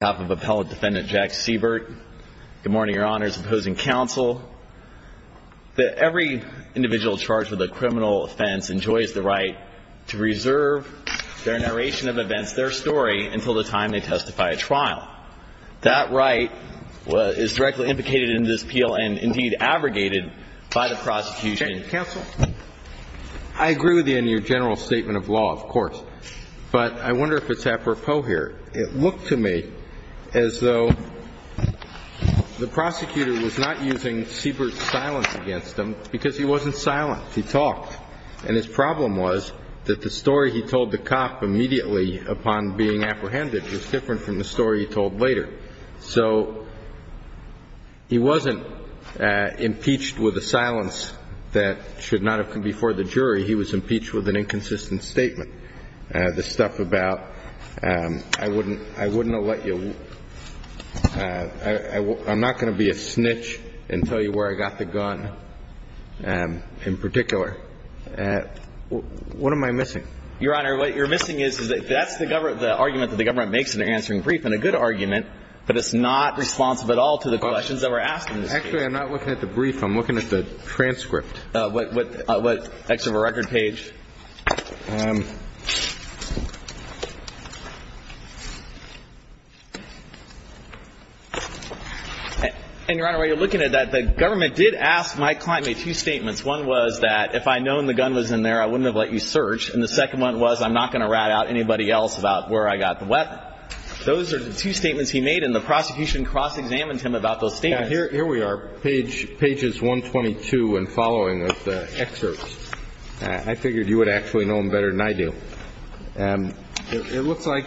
on behalf of appellate defendant Jack Seibert, good morning, Your Honors, and opposing counsel. Every individual charged with a criminal offense enjoys the right to reserve their narration of events, their story, until the time they testify at trial. That right is directly implicated in this appeal and, indeed, abrogated by the prosecution. Counsel? I agree with you in your general statement of law, of course, but I wonder if it's apropos here. It looked to me as though the prosecutor was not using Seibert's silence against him because he wasn't silent. He talked. And his problem was that the story he told the cop immediately upon being apprehended was different from the story he told later. So he wasn't impeached with a silence that should not have come before the jury. He was impeached with an inconsistent statement. I'm not going to be a snitch and tell you where I got the gun in particular. What am I missing? Your Honor, what you're missing is that that's the argument that the government makes in their answering brief, and a good argument, but it's not responsive at all to the questions that were asked in this case. Actually, I'm not looking at the brief. I'm looking at the transcript. What excerpt of a record page? And, Your Honor, while you're looking at that, the government did ask my client to make two statements. One was that if I'd known the gun was in there, I wouldn't have let you search. And the second one was I'm not going to rat out anybody else about where I got the weapon. Those are the two statements he made, and the prosecution cross-examined him about those statements. Now, here we are, page 122 and following of the excerpt. I figure you're not going to be able to read it. I figured you would actually know him better than I do. It looks like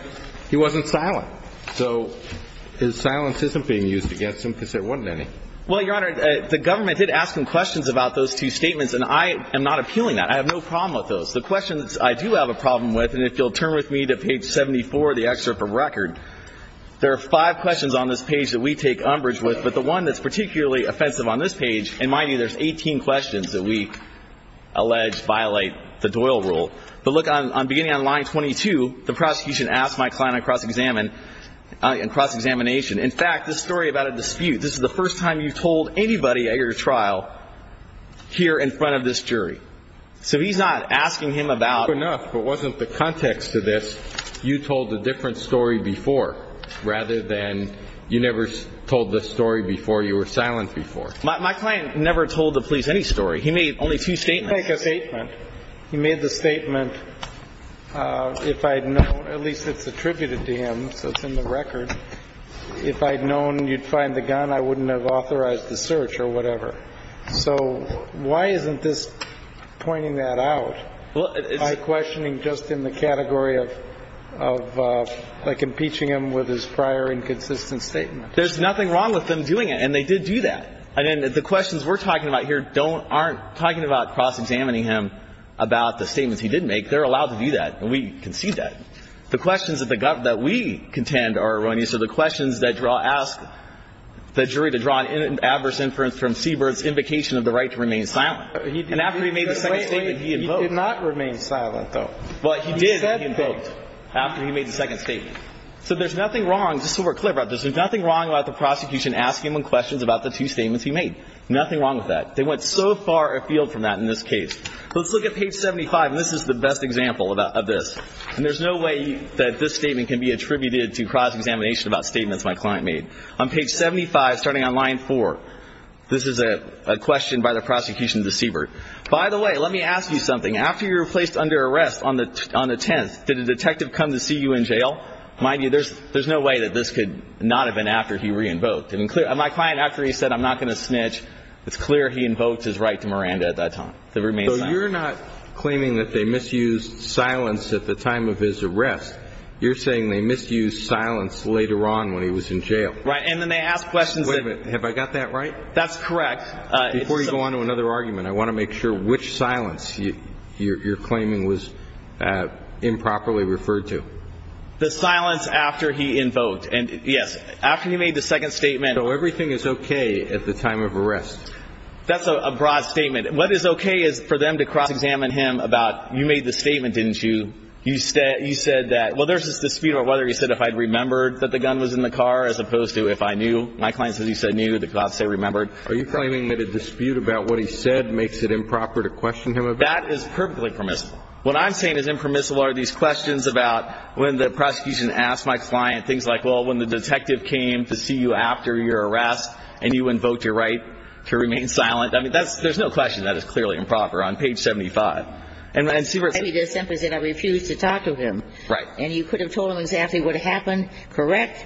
he wasn't silent. So his silence isn't being used against him because there wasn't any. Well, Your Honor, the government did ask him questions about those two statements, and I am not appealing that. I have no problem with those. The questions I do have a problem with, and if you'll turn with me to page 74, the excerpt from record, there are five questions on this page that we take umbrage with, but the one that's particularly offensive on this page, in my view, there's 18 questions that we allege violate the Doyle rule. But look, beginning on line 22, the prosecution asked my client on cross-examination. In fact, this story about a dispute. This is the first time you've told anybody at your trial here in front of this jury. So he's not asking him about. Enough, if it wasn't the context of this, you told a different story before, rather than you never told this story before. You were silent before. My client never told the police any story. He made only two statements. He made the statement, if I'd known, at least it's attributed to him, so it's in the record. If I'd known you'd find the gun, I wouldn't have authorized the search or whatever. So why isn't this pointing that out by questioning just in the category of like impeaching him with his prior inconsistent statement? There's nothing wrong with them doing it, and they did do that. And then the questions we're talking about here aren't talking about cross-examining him about the statements he did make. They're allowed to do that, and we concede that. The questions that we contend are erroneous. So the questions that ask the jury to draw an adverse inference from Seabird's invocation of the right to remain silent. And after he made the second statement, he invoked. He did not remain silent, though. Well, he did, he invoked, after he made the second statement. So there's nothing wrong, just so we're clear about this, there's nothing wrong about the Nothing wrong with that. They went so far afield from that in this case. Let's look at page 75, and this is the best example of this. And there's no way that this statement can be attributed to cross-examination about statements my client made. On page 75, starting on line 4, this is a question by the prosecution to Seabird. By the way, let me ask you something. After you were placed under arrest on the 10th, did a detective come to see you in jail? Mind you, there's no way that this could not have been after he re-invoked. My client, after he said, I'm not going to snitch, it's clear he invoked his right to Miranda at that time. To remain silent. So you're not claiming that they misused silence at the time of his arrest. You're saying they misused silence later on when he was in jail. Right, and then they asked questions. Wait a minute, have I got that right? That's correct. Before you go on to another argument, I want to make sure which silence you're claiming was improperly referred to. The silence after he invoked. Yes, after he made the second statement. So everything is okay at the time of arrest. That's a broad statement. What is okay is for them to cross-examine him about, you made the statement, didn't you? You said that, well, there's this dispute about whether he said if I'd remembered that the gun was in the car as opposed to if I knew. My client says he said knew, the cops say remembered. Are you claiming that a dispute about what he said makes it improper to question him about it? That is perfectly permissible. What I'm saying is impermissible are these questions about when the prosecution asked my client things like, well, when the detective came to see you after your arrest and you invoked your right to remain silent. I mean, there's no question that is clearly improper on page 75. I mean, they simply said I refused to talk to him. Right. And you could have told him exactly what happened, correct?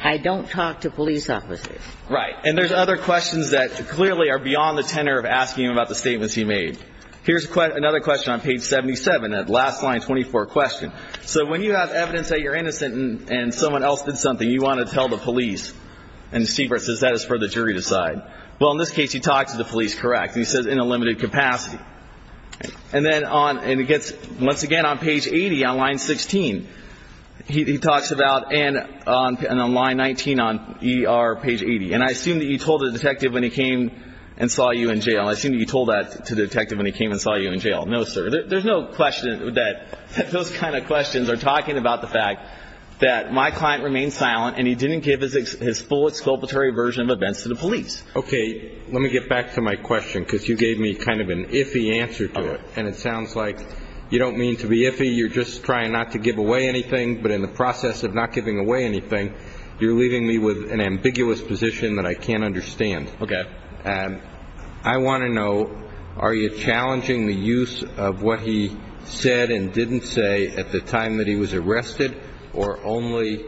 I don't talk to police officers. Right, and there's other questions that clearly are beyond the tenor of asking him about the statements he made. Here's another question on page 77, that last line 24 question. So when you have evidence that you're innocent and someone else did something, you want to tell the police. And Siebert says that is for the jury to decide. Well, in this case, he talked to the police, correct? And he says in a limited capacity. And then on and it gets once again on page 80 on line 16, he talks about and on line 19 on ER page 80. And I assume that you told the detective when he came and saw you in jail. No, sir. There's no question that those kind of questions are talking about the fact that my client remained silent and he didn't give his full exculpatory version of events to the police. OK, let me get back to my question because you gave me kind of an iffy answer to it. And it sounds like you don't mean to be iffy. You're just trying not to give away anything. But in the process of not giving away anything, you're leaving me with an ambiguous position that I can't understand. OK, I want to know, are you challenging the use of what he said and didn't say at the time that he was arrested or only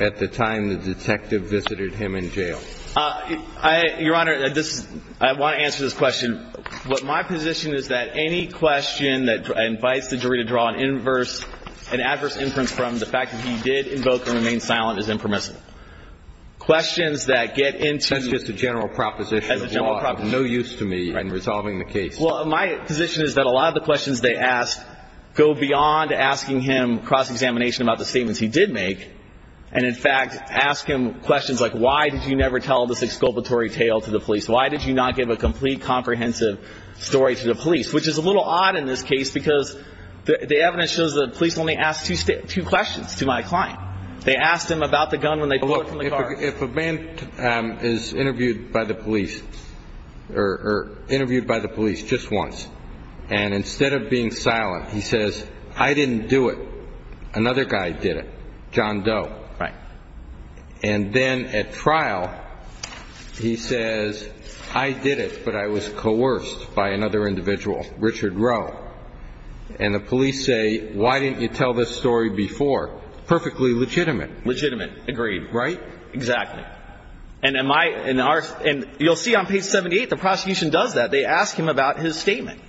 at the time the detective visited him in jail? I, Your Honor, I want to answer this question. What my position is that any question that invites the jury to draw an inverse and adverse inference from the fact that he did invoke and remain silent is impermissible. Questions that get into. That's just a general proposition. That's a general proposition. No use to me in resolving the case. Well, my position is that a lot of the questions they ask go beyond asking him cross-examination about the statements he did make and, in fact, ask him questions like, why did you never tell this exculpatory tale to the police? Why did you not give a complete, comprehensive story to the police? Which is a little odd in this case because the evidence shows that the police only asked two questions to my client. They asked him about the gun when they pulled it from the car. If a man is interviewed by the police or interviewed by the police just once and instead of being silent, he says, I didn't do it. Another guy did it. John Doe. Right. And then at trial, he says, I did it, but I was coerced by another individual, Richard Rowe. And the police say, why didn't you tell this story before? Perfectly legitimate. Legitimate. Agreed. Right. Exactly. And you'll see on page 78, the prosecution does that. They ask him about his statement.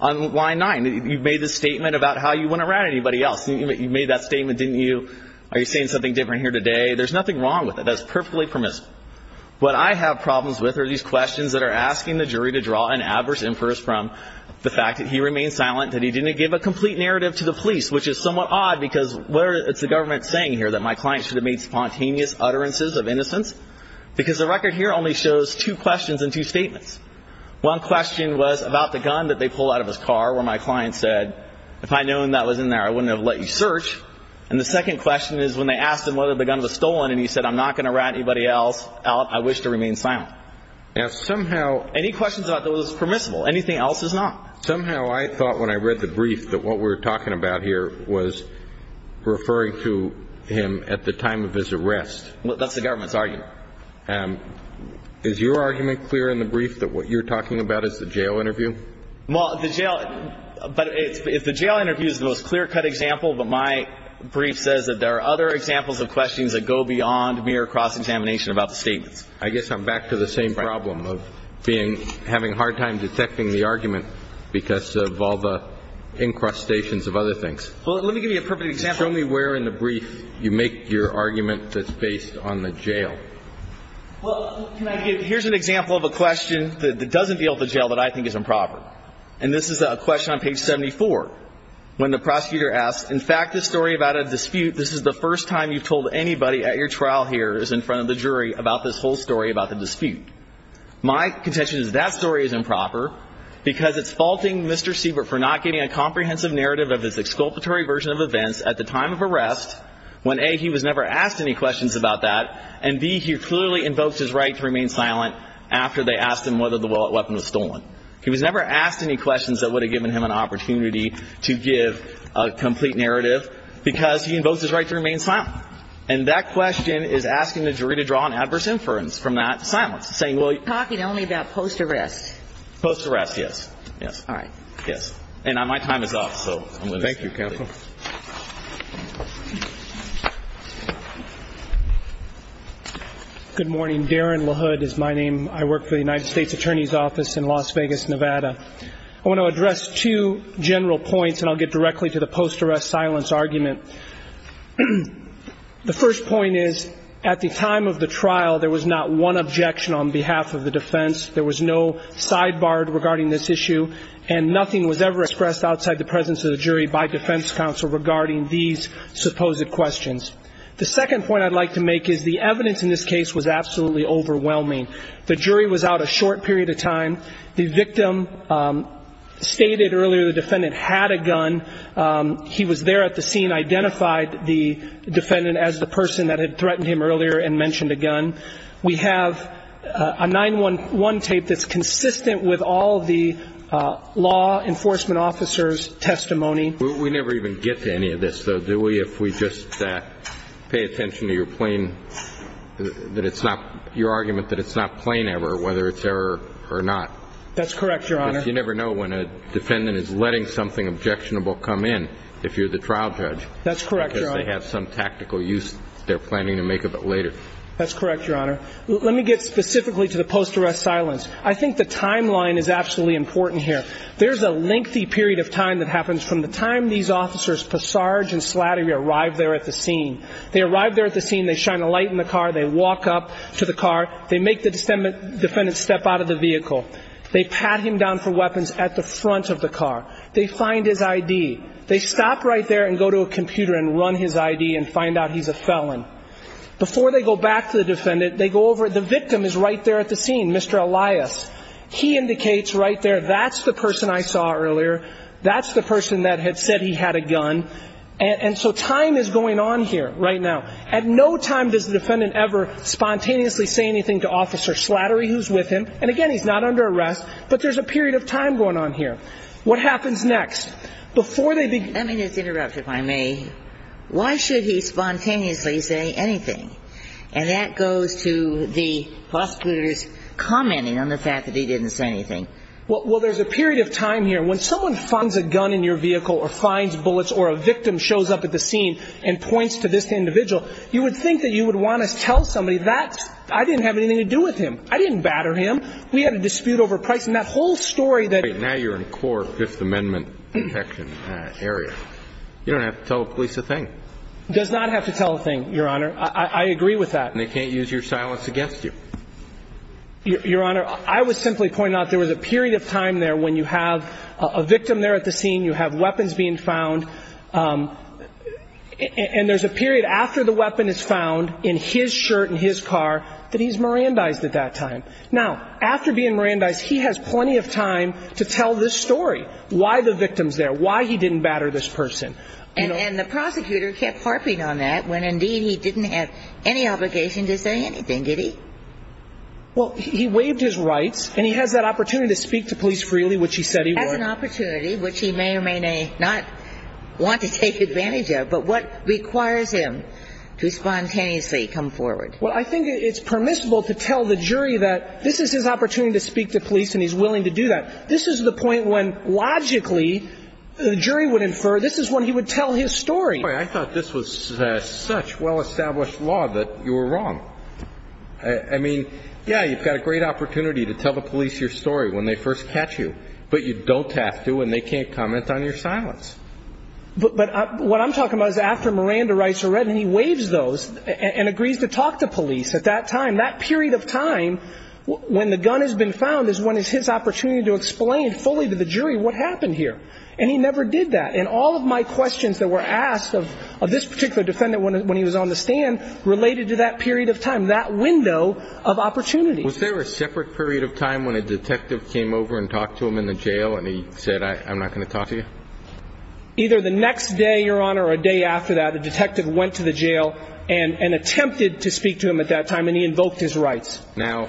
On line nine, you've made this statement about how you wouldn't rat anybody else. You made that statement, didn't you? Are you saying something different here today? There's nothing wrong with it. That's perfectly permissible. What I have problems with are these questions that are asking the jury to draw an adverse inference from the fact that he remained silent, that he didn't give a complete narrative to the police, which is somewhat odd because it's the government saying here that my client should have made spontaneous utterances of innocence because the record here only shows two questions and two statements. One question was about the gun that they pulled out of his car where my client said, if I'd known that was in there, I wouldn't have let you search. And the second question is when they asked him whether the gun was stolen and he said, I'm not going to rat anybody else out. I wish to remain silent. Now, somehow, any questions about that was permissible. Anything else is not. Somehow, I thought when I read the brief that what we're talking about here was referring to him at the time of his arrest. That's the government's argument. Is your argument clear in the brief that what you're talking about is the jail interview? Well, the jail, but if the jail interview is the most clear-cut example, but my brief says that there are other examples of questions that go beyond mere cross-examination about the statements. I guess I'm back to the same problem of being, having a hard time detecting the argument because of all the incrustations of other things. Well, let me give you a perfect example. Show me where in the brief you make your argument that's based on the jail. Well, can I give, here's an example of a question that doesn't deal with the jail that I think is improper. And this is a question on page 74. When the prosecutor asks, in fact, this story about a dispute, this is the first time you've told anybody at your trial here is in front of the jury about this whole story about the dispute. My contention is that story is improper because it's faulting Mr. Siebert for not getting a comprehensive narrative of his exculpatory version of events at the time of arrest. When A, he was never asked any questions about that, and B, he clearly invokes his right to remain silent after they asked him whether the weapon was stolen. He was never asked any questions that would have given him an opportunity to give a complete narrative because he invokes his right to remain silent. And that question is asking the jury to draw an adverse inference from that silence, saying, well. You're talking only about post-arrest. Post-arrest, yes, yes. All right. Yes. And my time is up, so I'm going to. Thank you, counsel. Good morning. Darren LaHood is my name. I work for the United States Attorney's Office in Las Vegas, Nevada. I want to address two general points, and I'll get directly to the post-arrest silence argument. The first point is at the time of the trial, there was not one objection on behalf of the defense. There was no sidebar regarding this issue, and nothing was ever expressed outside the presence of the jury by defense counsel regarding these supposed questions. The second point I'd like to make is the evidence in this case was absolutely overwhelming. The jury was out a short period of time. The victim stated earlier the defendant had a gun. He was there at the scene, identified the defendant as the person that had threatened him earlier and mentioned a gun. We have a 9-1-1 tape that's consistent with all the law enforcement officers' testimony. We never even get to any of this, though, do we, if we just pay attention to your plain, that it's not, your argument that it's not plain ever, whether it's error or not. That's correct, Your Honor. Because you never know when a defendant is letting something objectionable come in, if you're the trial judge. That's correct, Your Honor. Because they have some tactical use they're planning to make of it later. That's correct, Your Honor. Let me get specifically to the post-arrest silence. I think the timeline is absolutely important here. There's a lengthy period of time that happens from the time these officers Passage and Slattery arrive there at the scene. They arrive there at the scene. They shine a light in the car. They walk up to the car. They make the defendant step out of the vehicle. They pat him down for weapons at the front of the car. They find his I.D. They stop right there and go to a computer and run his I.D. and find out he's a felon. Before they go back to the defendant, they go over. The victim is right there at the scene, Mr. Elias. He indicates right there, that's the person I saw earlier. That's the person that had said he had a gun. And so time is going on here right now. At no time does the defendant ever spontaneously say anything to Officer Slattery, who's with him. And again, he's not under arrest. But there's a period of time going on here. What happens next? Before they begin. Let me just interrupt, if I may. Why should he spontaneously say anything? And that goes to the prosecutors commenting on the fact that he didn't say anything. Well, there's a period of time here when someone finds a gun in your vehicle or finds bullets or a victim shows up at the scene and points to this individual. You would think that you would want to tell somebody that I didn't have anything to do with him. I didn't batter him. We had a dispute over price and that whole story that now you're in court. Fifth Amendment section area. You don't have to tell police a thing. Does not have to tell a thing. Your Honor, I agree with that. And they can't use your silence against you. Your Honor, I was simply pointing out there was a period of time there when you have a victim there at the scene. You have weapons being found and there's a period after the weapon is found in his shirt in his car that he's Mirandized at that time. Now, after being Mirandized, he has plenty of time to tell this story. Why the victims there? Why he didn't batter this person? And the prosecutor kept harping on that when indeed he didn't have any obligation to say anything, did he? Well, he waived his rights and he has that opportunity to speak to police freely, which he said he had an opportunity, which he may or may not want to take advantage of. But what requires him to spontaneously come forward? Well, I think it's permissible to tell the jury that this is his opportunity to speak to police and he's willing to do that. This is the point when logically the jury would infer this is when he would tell his story. I thought this was such well-established law that you were wrong. I mean, yeah, you've got a great opportunity to tell the police your story when they first catch you, but you don't have to and they can't comment on your silence. But what I'm talking about is after Miranda rights are read and he waives those and agrees to talk to police at that time. When the gun has been found is when is his opportunity to explain fully to the jury what happened here? And he never did that. And all of my questions that were asked of this particular defendant when he was on the stand related to that period of time, that window of opportunity. Was there a separate period of time when a detective came over and talked to him in the jail and he said, I'm not going to talk to you? Either the next day, Your Honor, or a day after that, a detective went to the jail and attempted to speak to him at that time and he invoked his rights. Now,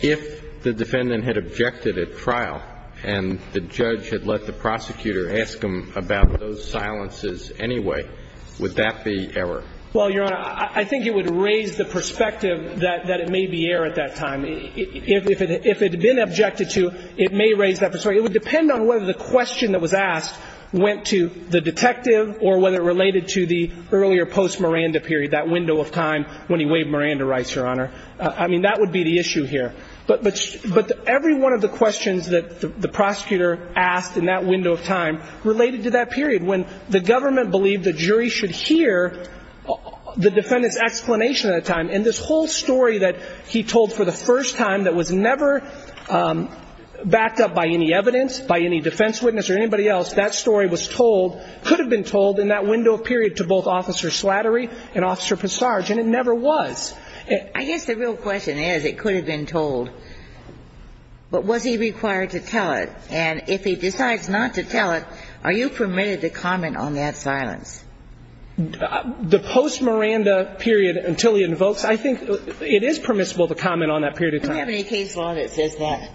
if the defendant had objected at trial and the judge had let the prosecutor ask him about those silences anyway, would that be error? Well, Your Honor, I think it would raise the perspective that it may be error at that time. If it had been objected to, it may raise that perspective. It would depend on whether the question that was asked went to the detective or whether it related to the earlier post-Miranda period, that window of time when he waived Miranda rights, Your Honor. I mean, that would be the issue here. But every one of the questions that the prosecutor asked in that window of time related to that period. When the government believed the jury should hear the defendant's explanation at that time, and this whole story that he told for the first time that was never backed up by any evidence, by any defense witness or anybody else, that story was told, could have been told in that window of period to both Officer Slattery and Officer Passarge, and it never was. I guess the real question is, it could have been told. But was he required to tell it? And if he decides not to tell it, are you permitted to comment on that silence? The post-Miranda period until he invokes, I think it is permissible to comment on that period of time. I don't have any case law that says that.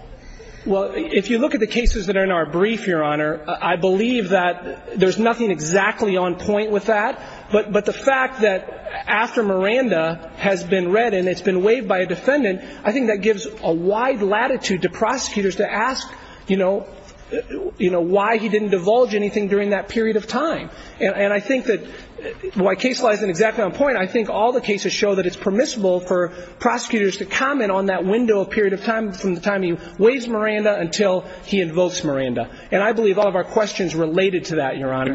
Well, if you look at the cases that are in our brief, Your Honor, I believe that there's nothing exactly on point with that. But the fact that after Miranda has been read and it's been waived by a defendant, I think that gives a wide latitude to prosecutors to ask, you know, why he didn't divulge anything during that period of time. And I think that my case lies in exactly on point. I think all the cases show that it's permissible for prosecutors to comment on that window of period of time from the time he waives Miranda until he invokes Miranda. I can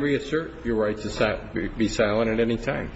reassert your right to be silent at any time.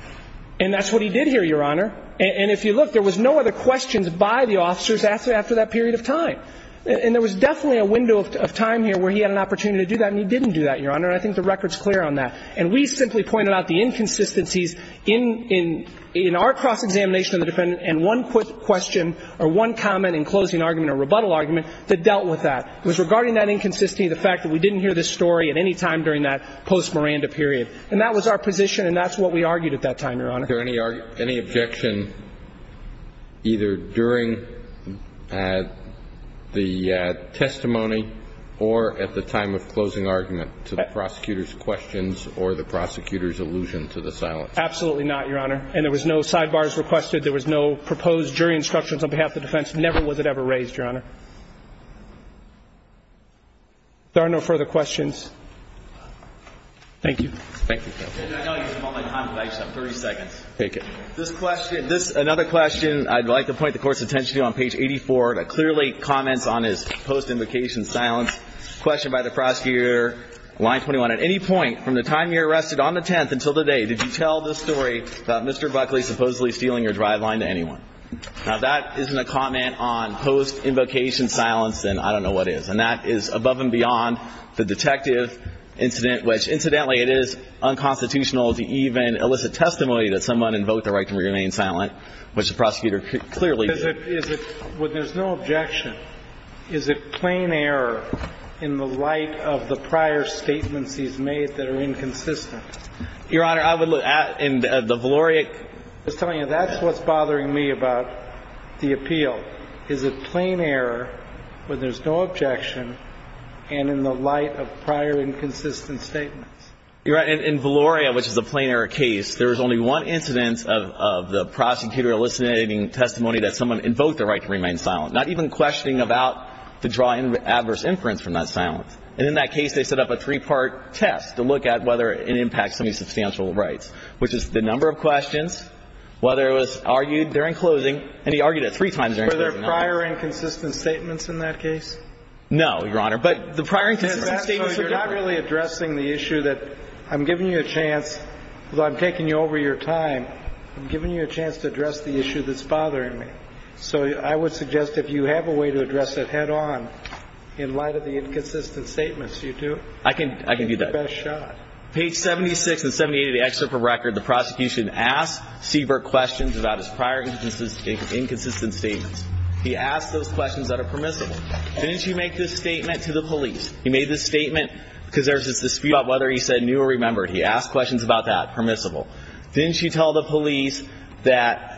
And that's what he did here, Your Honor. And if you look, there was no other questions by the officers after that period of time. And there was definitely a window of time here where he had an opportunity to do that, and he didn't do that, Your Honor. And I think the record is clear on that. And we simply pointed out the inconsistencies in our cross-examination of the defendant and one quick question or one comment in closing argument or rebuttal argument that dealt with that. It was regarding that inconsistency, the fact that we didn't hear this story at any time during that post-Miranda period. And that was our position, and that's what we argued at that time, Your Honor. Was there any objection either during the testimony or at the time of closing argument to the prosecutor's questions or the prosecutor's allusion to the silence? Absolutely not, Your Honor. And there was no sidebars requested. There was no proposed jury instructions on behalf of the defense. Never was it ever raised, Your Honor. There are no further questions. Thank you. Thank you. I know you have all that time, but I just have 30 seconds. Take it. This question, this is another question I'd like to point the Court's attention to on page 84. It clearly comments on his post-invocation silence. Question by the prosecutor, line 21. At any point from the time you were arrested on the 10th until today, did you tell the story about Mr. Buckley supposedly stealing your driveline to anyone? Now, if that isn't a comment on post-invocation silence, then I don't know what is. And that is above and beyond the detective incident, which, incidentally, it is unconstitutional to even elicit testimony that someone invoked the right to remain silent, which the prosecutor clearly did. But there's no objection. Is it plain error in the light of the prior statements he's made that are inconsistent? Your Honor, I would look at the valeric. I'm just telling you, that's what's bothering me about the appeal. Is it plain error when there's no objection and in the light of prior inconsistent statements? Your Honor, in valeria, which is a plain error case, there was only one incident of the prosecutor eliciting testimony that someone invoked the right to remain silent, not even questioning about the drawing of adverse inference from that silence. And in that case, they set up a three-part test to look at whether it impacts somebody's substantial rights, which is the number of questions, whether it was argued during closing. And he argued it three times during closing. Were there prior inconsistent statements in that case? No, Your Honor. But the prior inconsistent statements are different. So you're not really addressing the issue that I'm giving you a chance, although I'm taking you over your time, I'm giving you a chance to address the issue that's bothering me. So I would suggest if you have a way to address it head-on in light of the inconsistent statements, you do. I can do that. Take the best shot. Page 76 and 78 of the excerpt from record, the prosecution asked Siebert questions about his prior inconsistent statements. He asked those questions that are permissible. Didn't you make this statement to the police? He made this statement because there was this dispute about whether he said knew or remembered. He asked questions about that, permissible. Didn't you tell the police that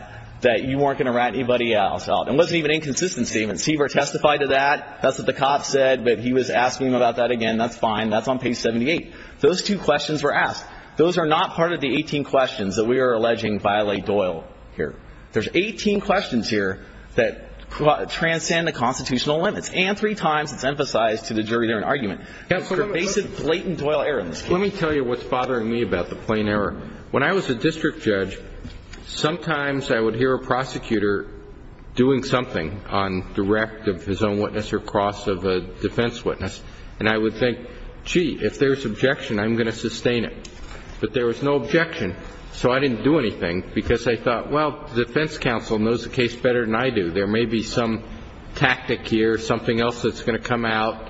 you weren't going to rat anybody else out? It wasn't even inconsistent statements. Siebert testified to that. That's what the cop said. But he was asking him about that again. That's fine. That's on page 78. Those two questions were asked. Those are not part of the 18 questions that we are alleging violate Doyle here. There's 18 questions here that transcend the constitutional limits. And three times it's emphasized to the jury they're an argument. It's pervasive, blatant Doyle error in this case. Let me tell you what's bothering me about the plain error. When I was a district judge, sometimes I would hear a prosecutor doing something on direct of his own witness or cross of a defense witness, and I would think, gee, if there's objection, I'm going to sustain it. But there was no objection, so I didn't do anything because I thought, well, the defense counsel knows the case better than I do. There may be some tactic here, something else that's going to come out,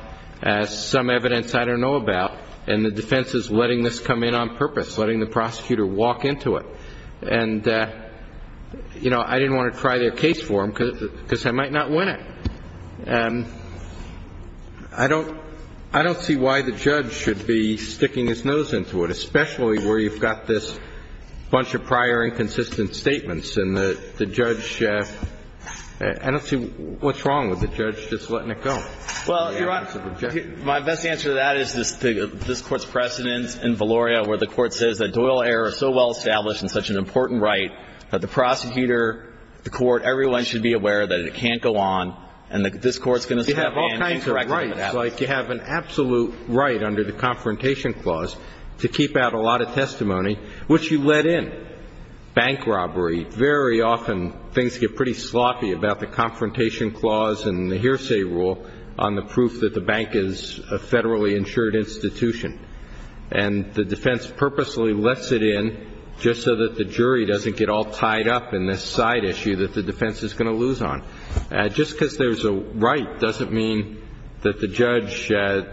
some evidence I don't know about, and the defense is letting this come in on purpose, letting the prosecutor walk into it. And, you know, I didn't want to try their case for them because I might not win it. I don't see why the judge should be sticking his nose into it, especially where you've got this bunch of prior inconsistent statements, and the judge – I don't see what's wrong with the judge just letting it go. Well, Your Honor, my best answer to that is this Court's precedence in Valoria where the Court says that Doyle error is so well established and such an important right that the prosecutor, the Court, everyone should be aware that it can't go on, and this Court's going to stand and correct it if it happens. You have all kinds of rights. Like you have an absolute right under the Confrontation Clause to keep out a lot of testimony, which you let in. Bank robbery, very often things get pretty sloppy about the Confrontation Clause and the Hearsay Rule on the proof that the bank is a federally insured institution. And the defense purposely lets it in just so that the jury doesn't get all tied up in this side issue that the defense is going to lose on. Just because there's a right doesn't mean that the judge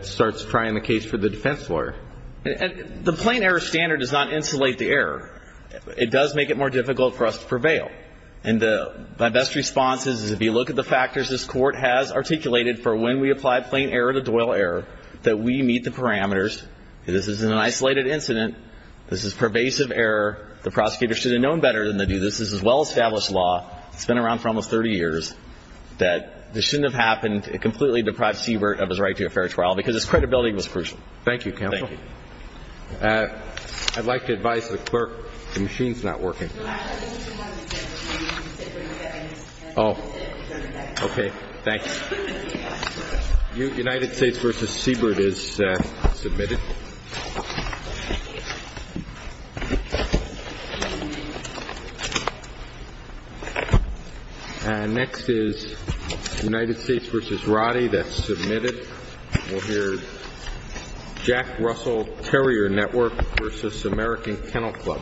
starts trying the case for the defense lawyer. The plain error standard does not insulate the error. It does make it more difficult for us to prevail. And my best response is if you look at the factors this Court has articulated for when we apply plain error to Doyle error, that we meet the parameters. This isn't an isolated incident. This is pervasive error. The prosecutor should have known better than to do this. This is a well-established law. It's been around for almost 30 years that this shouldn't have happened, a completely deprived Siebert of his right to a fair trial because his credibility was crucial. Thank you, Counsel. Thank you. I'd like to advise the Clerk the machine's not working. Oh. Okay. Thanks. United States v. Siebert is submitted. Next is United States v. Roddy. That's submitted. We'll hear Jack Russell Terrier Network v. American Kennel Club. Thank you.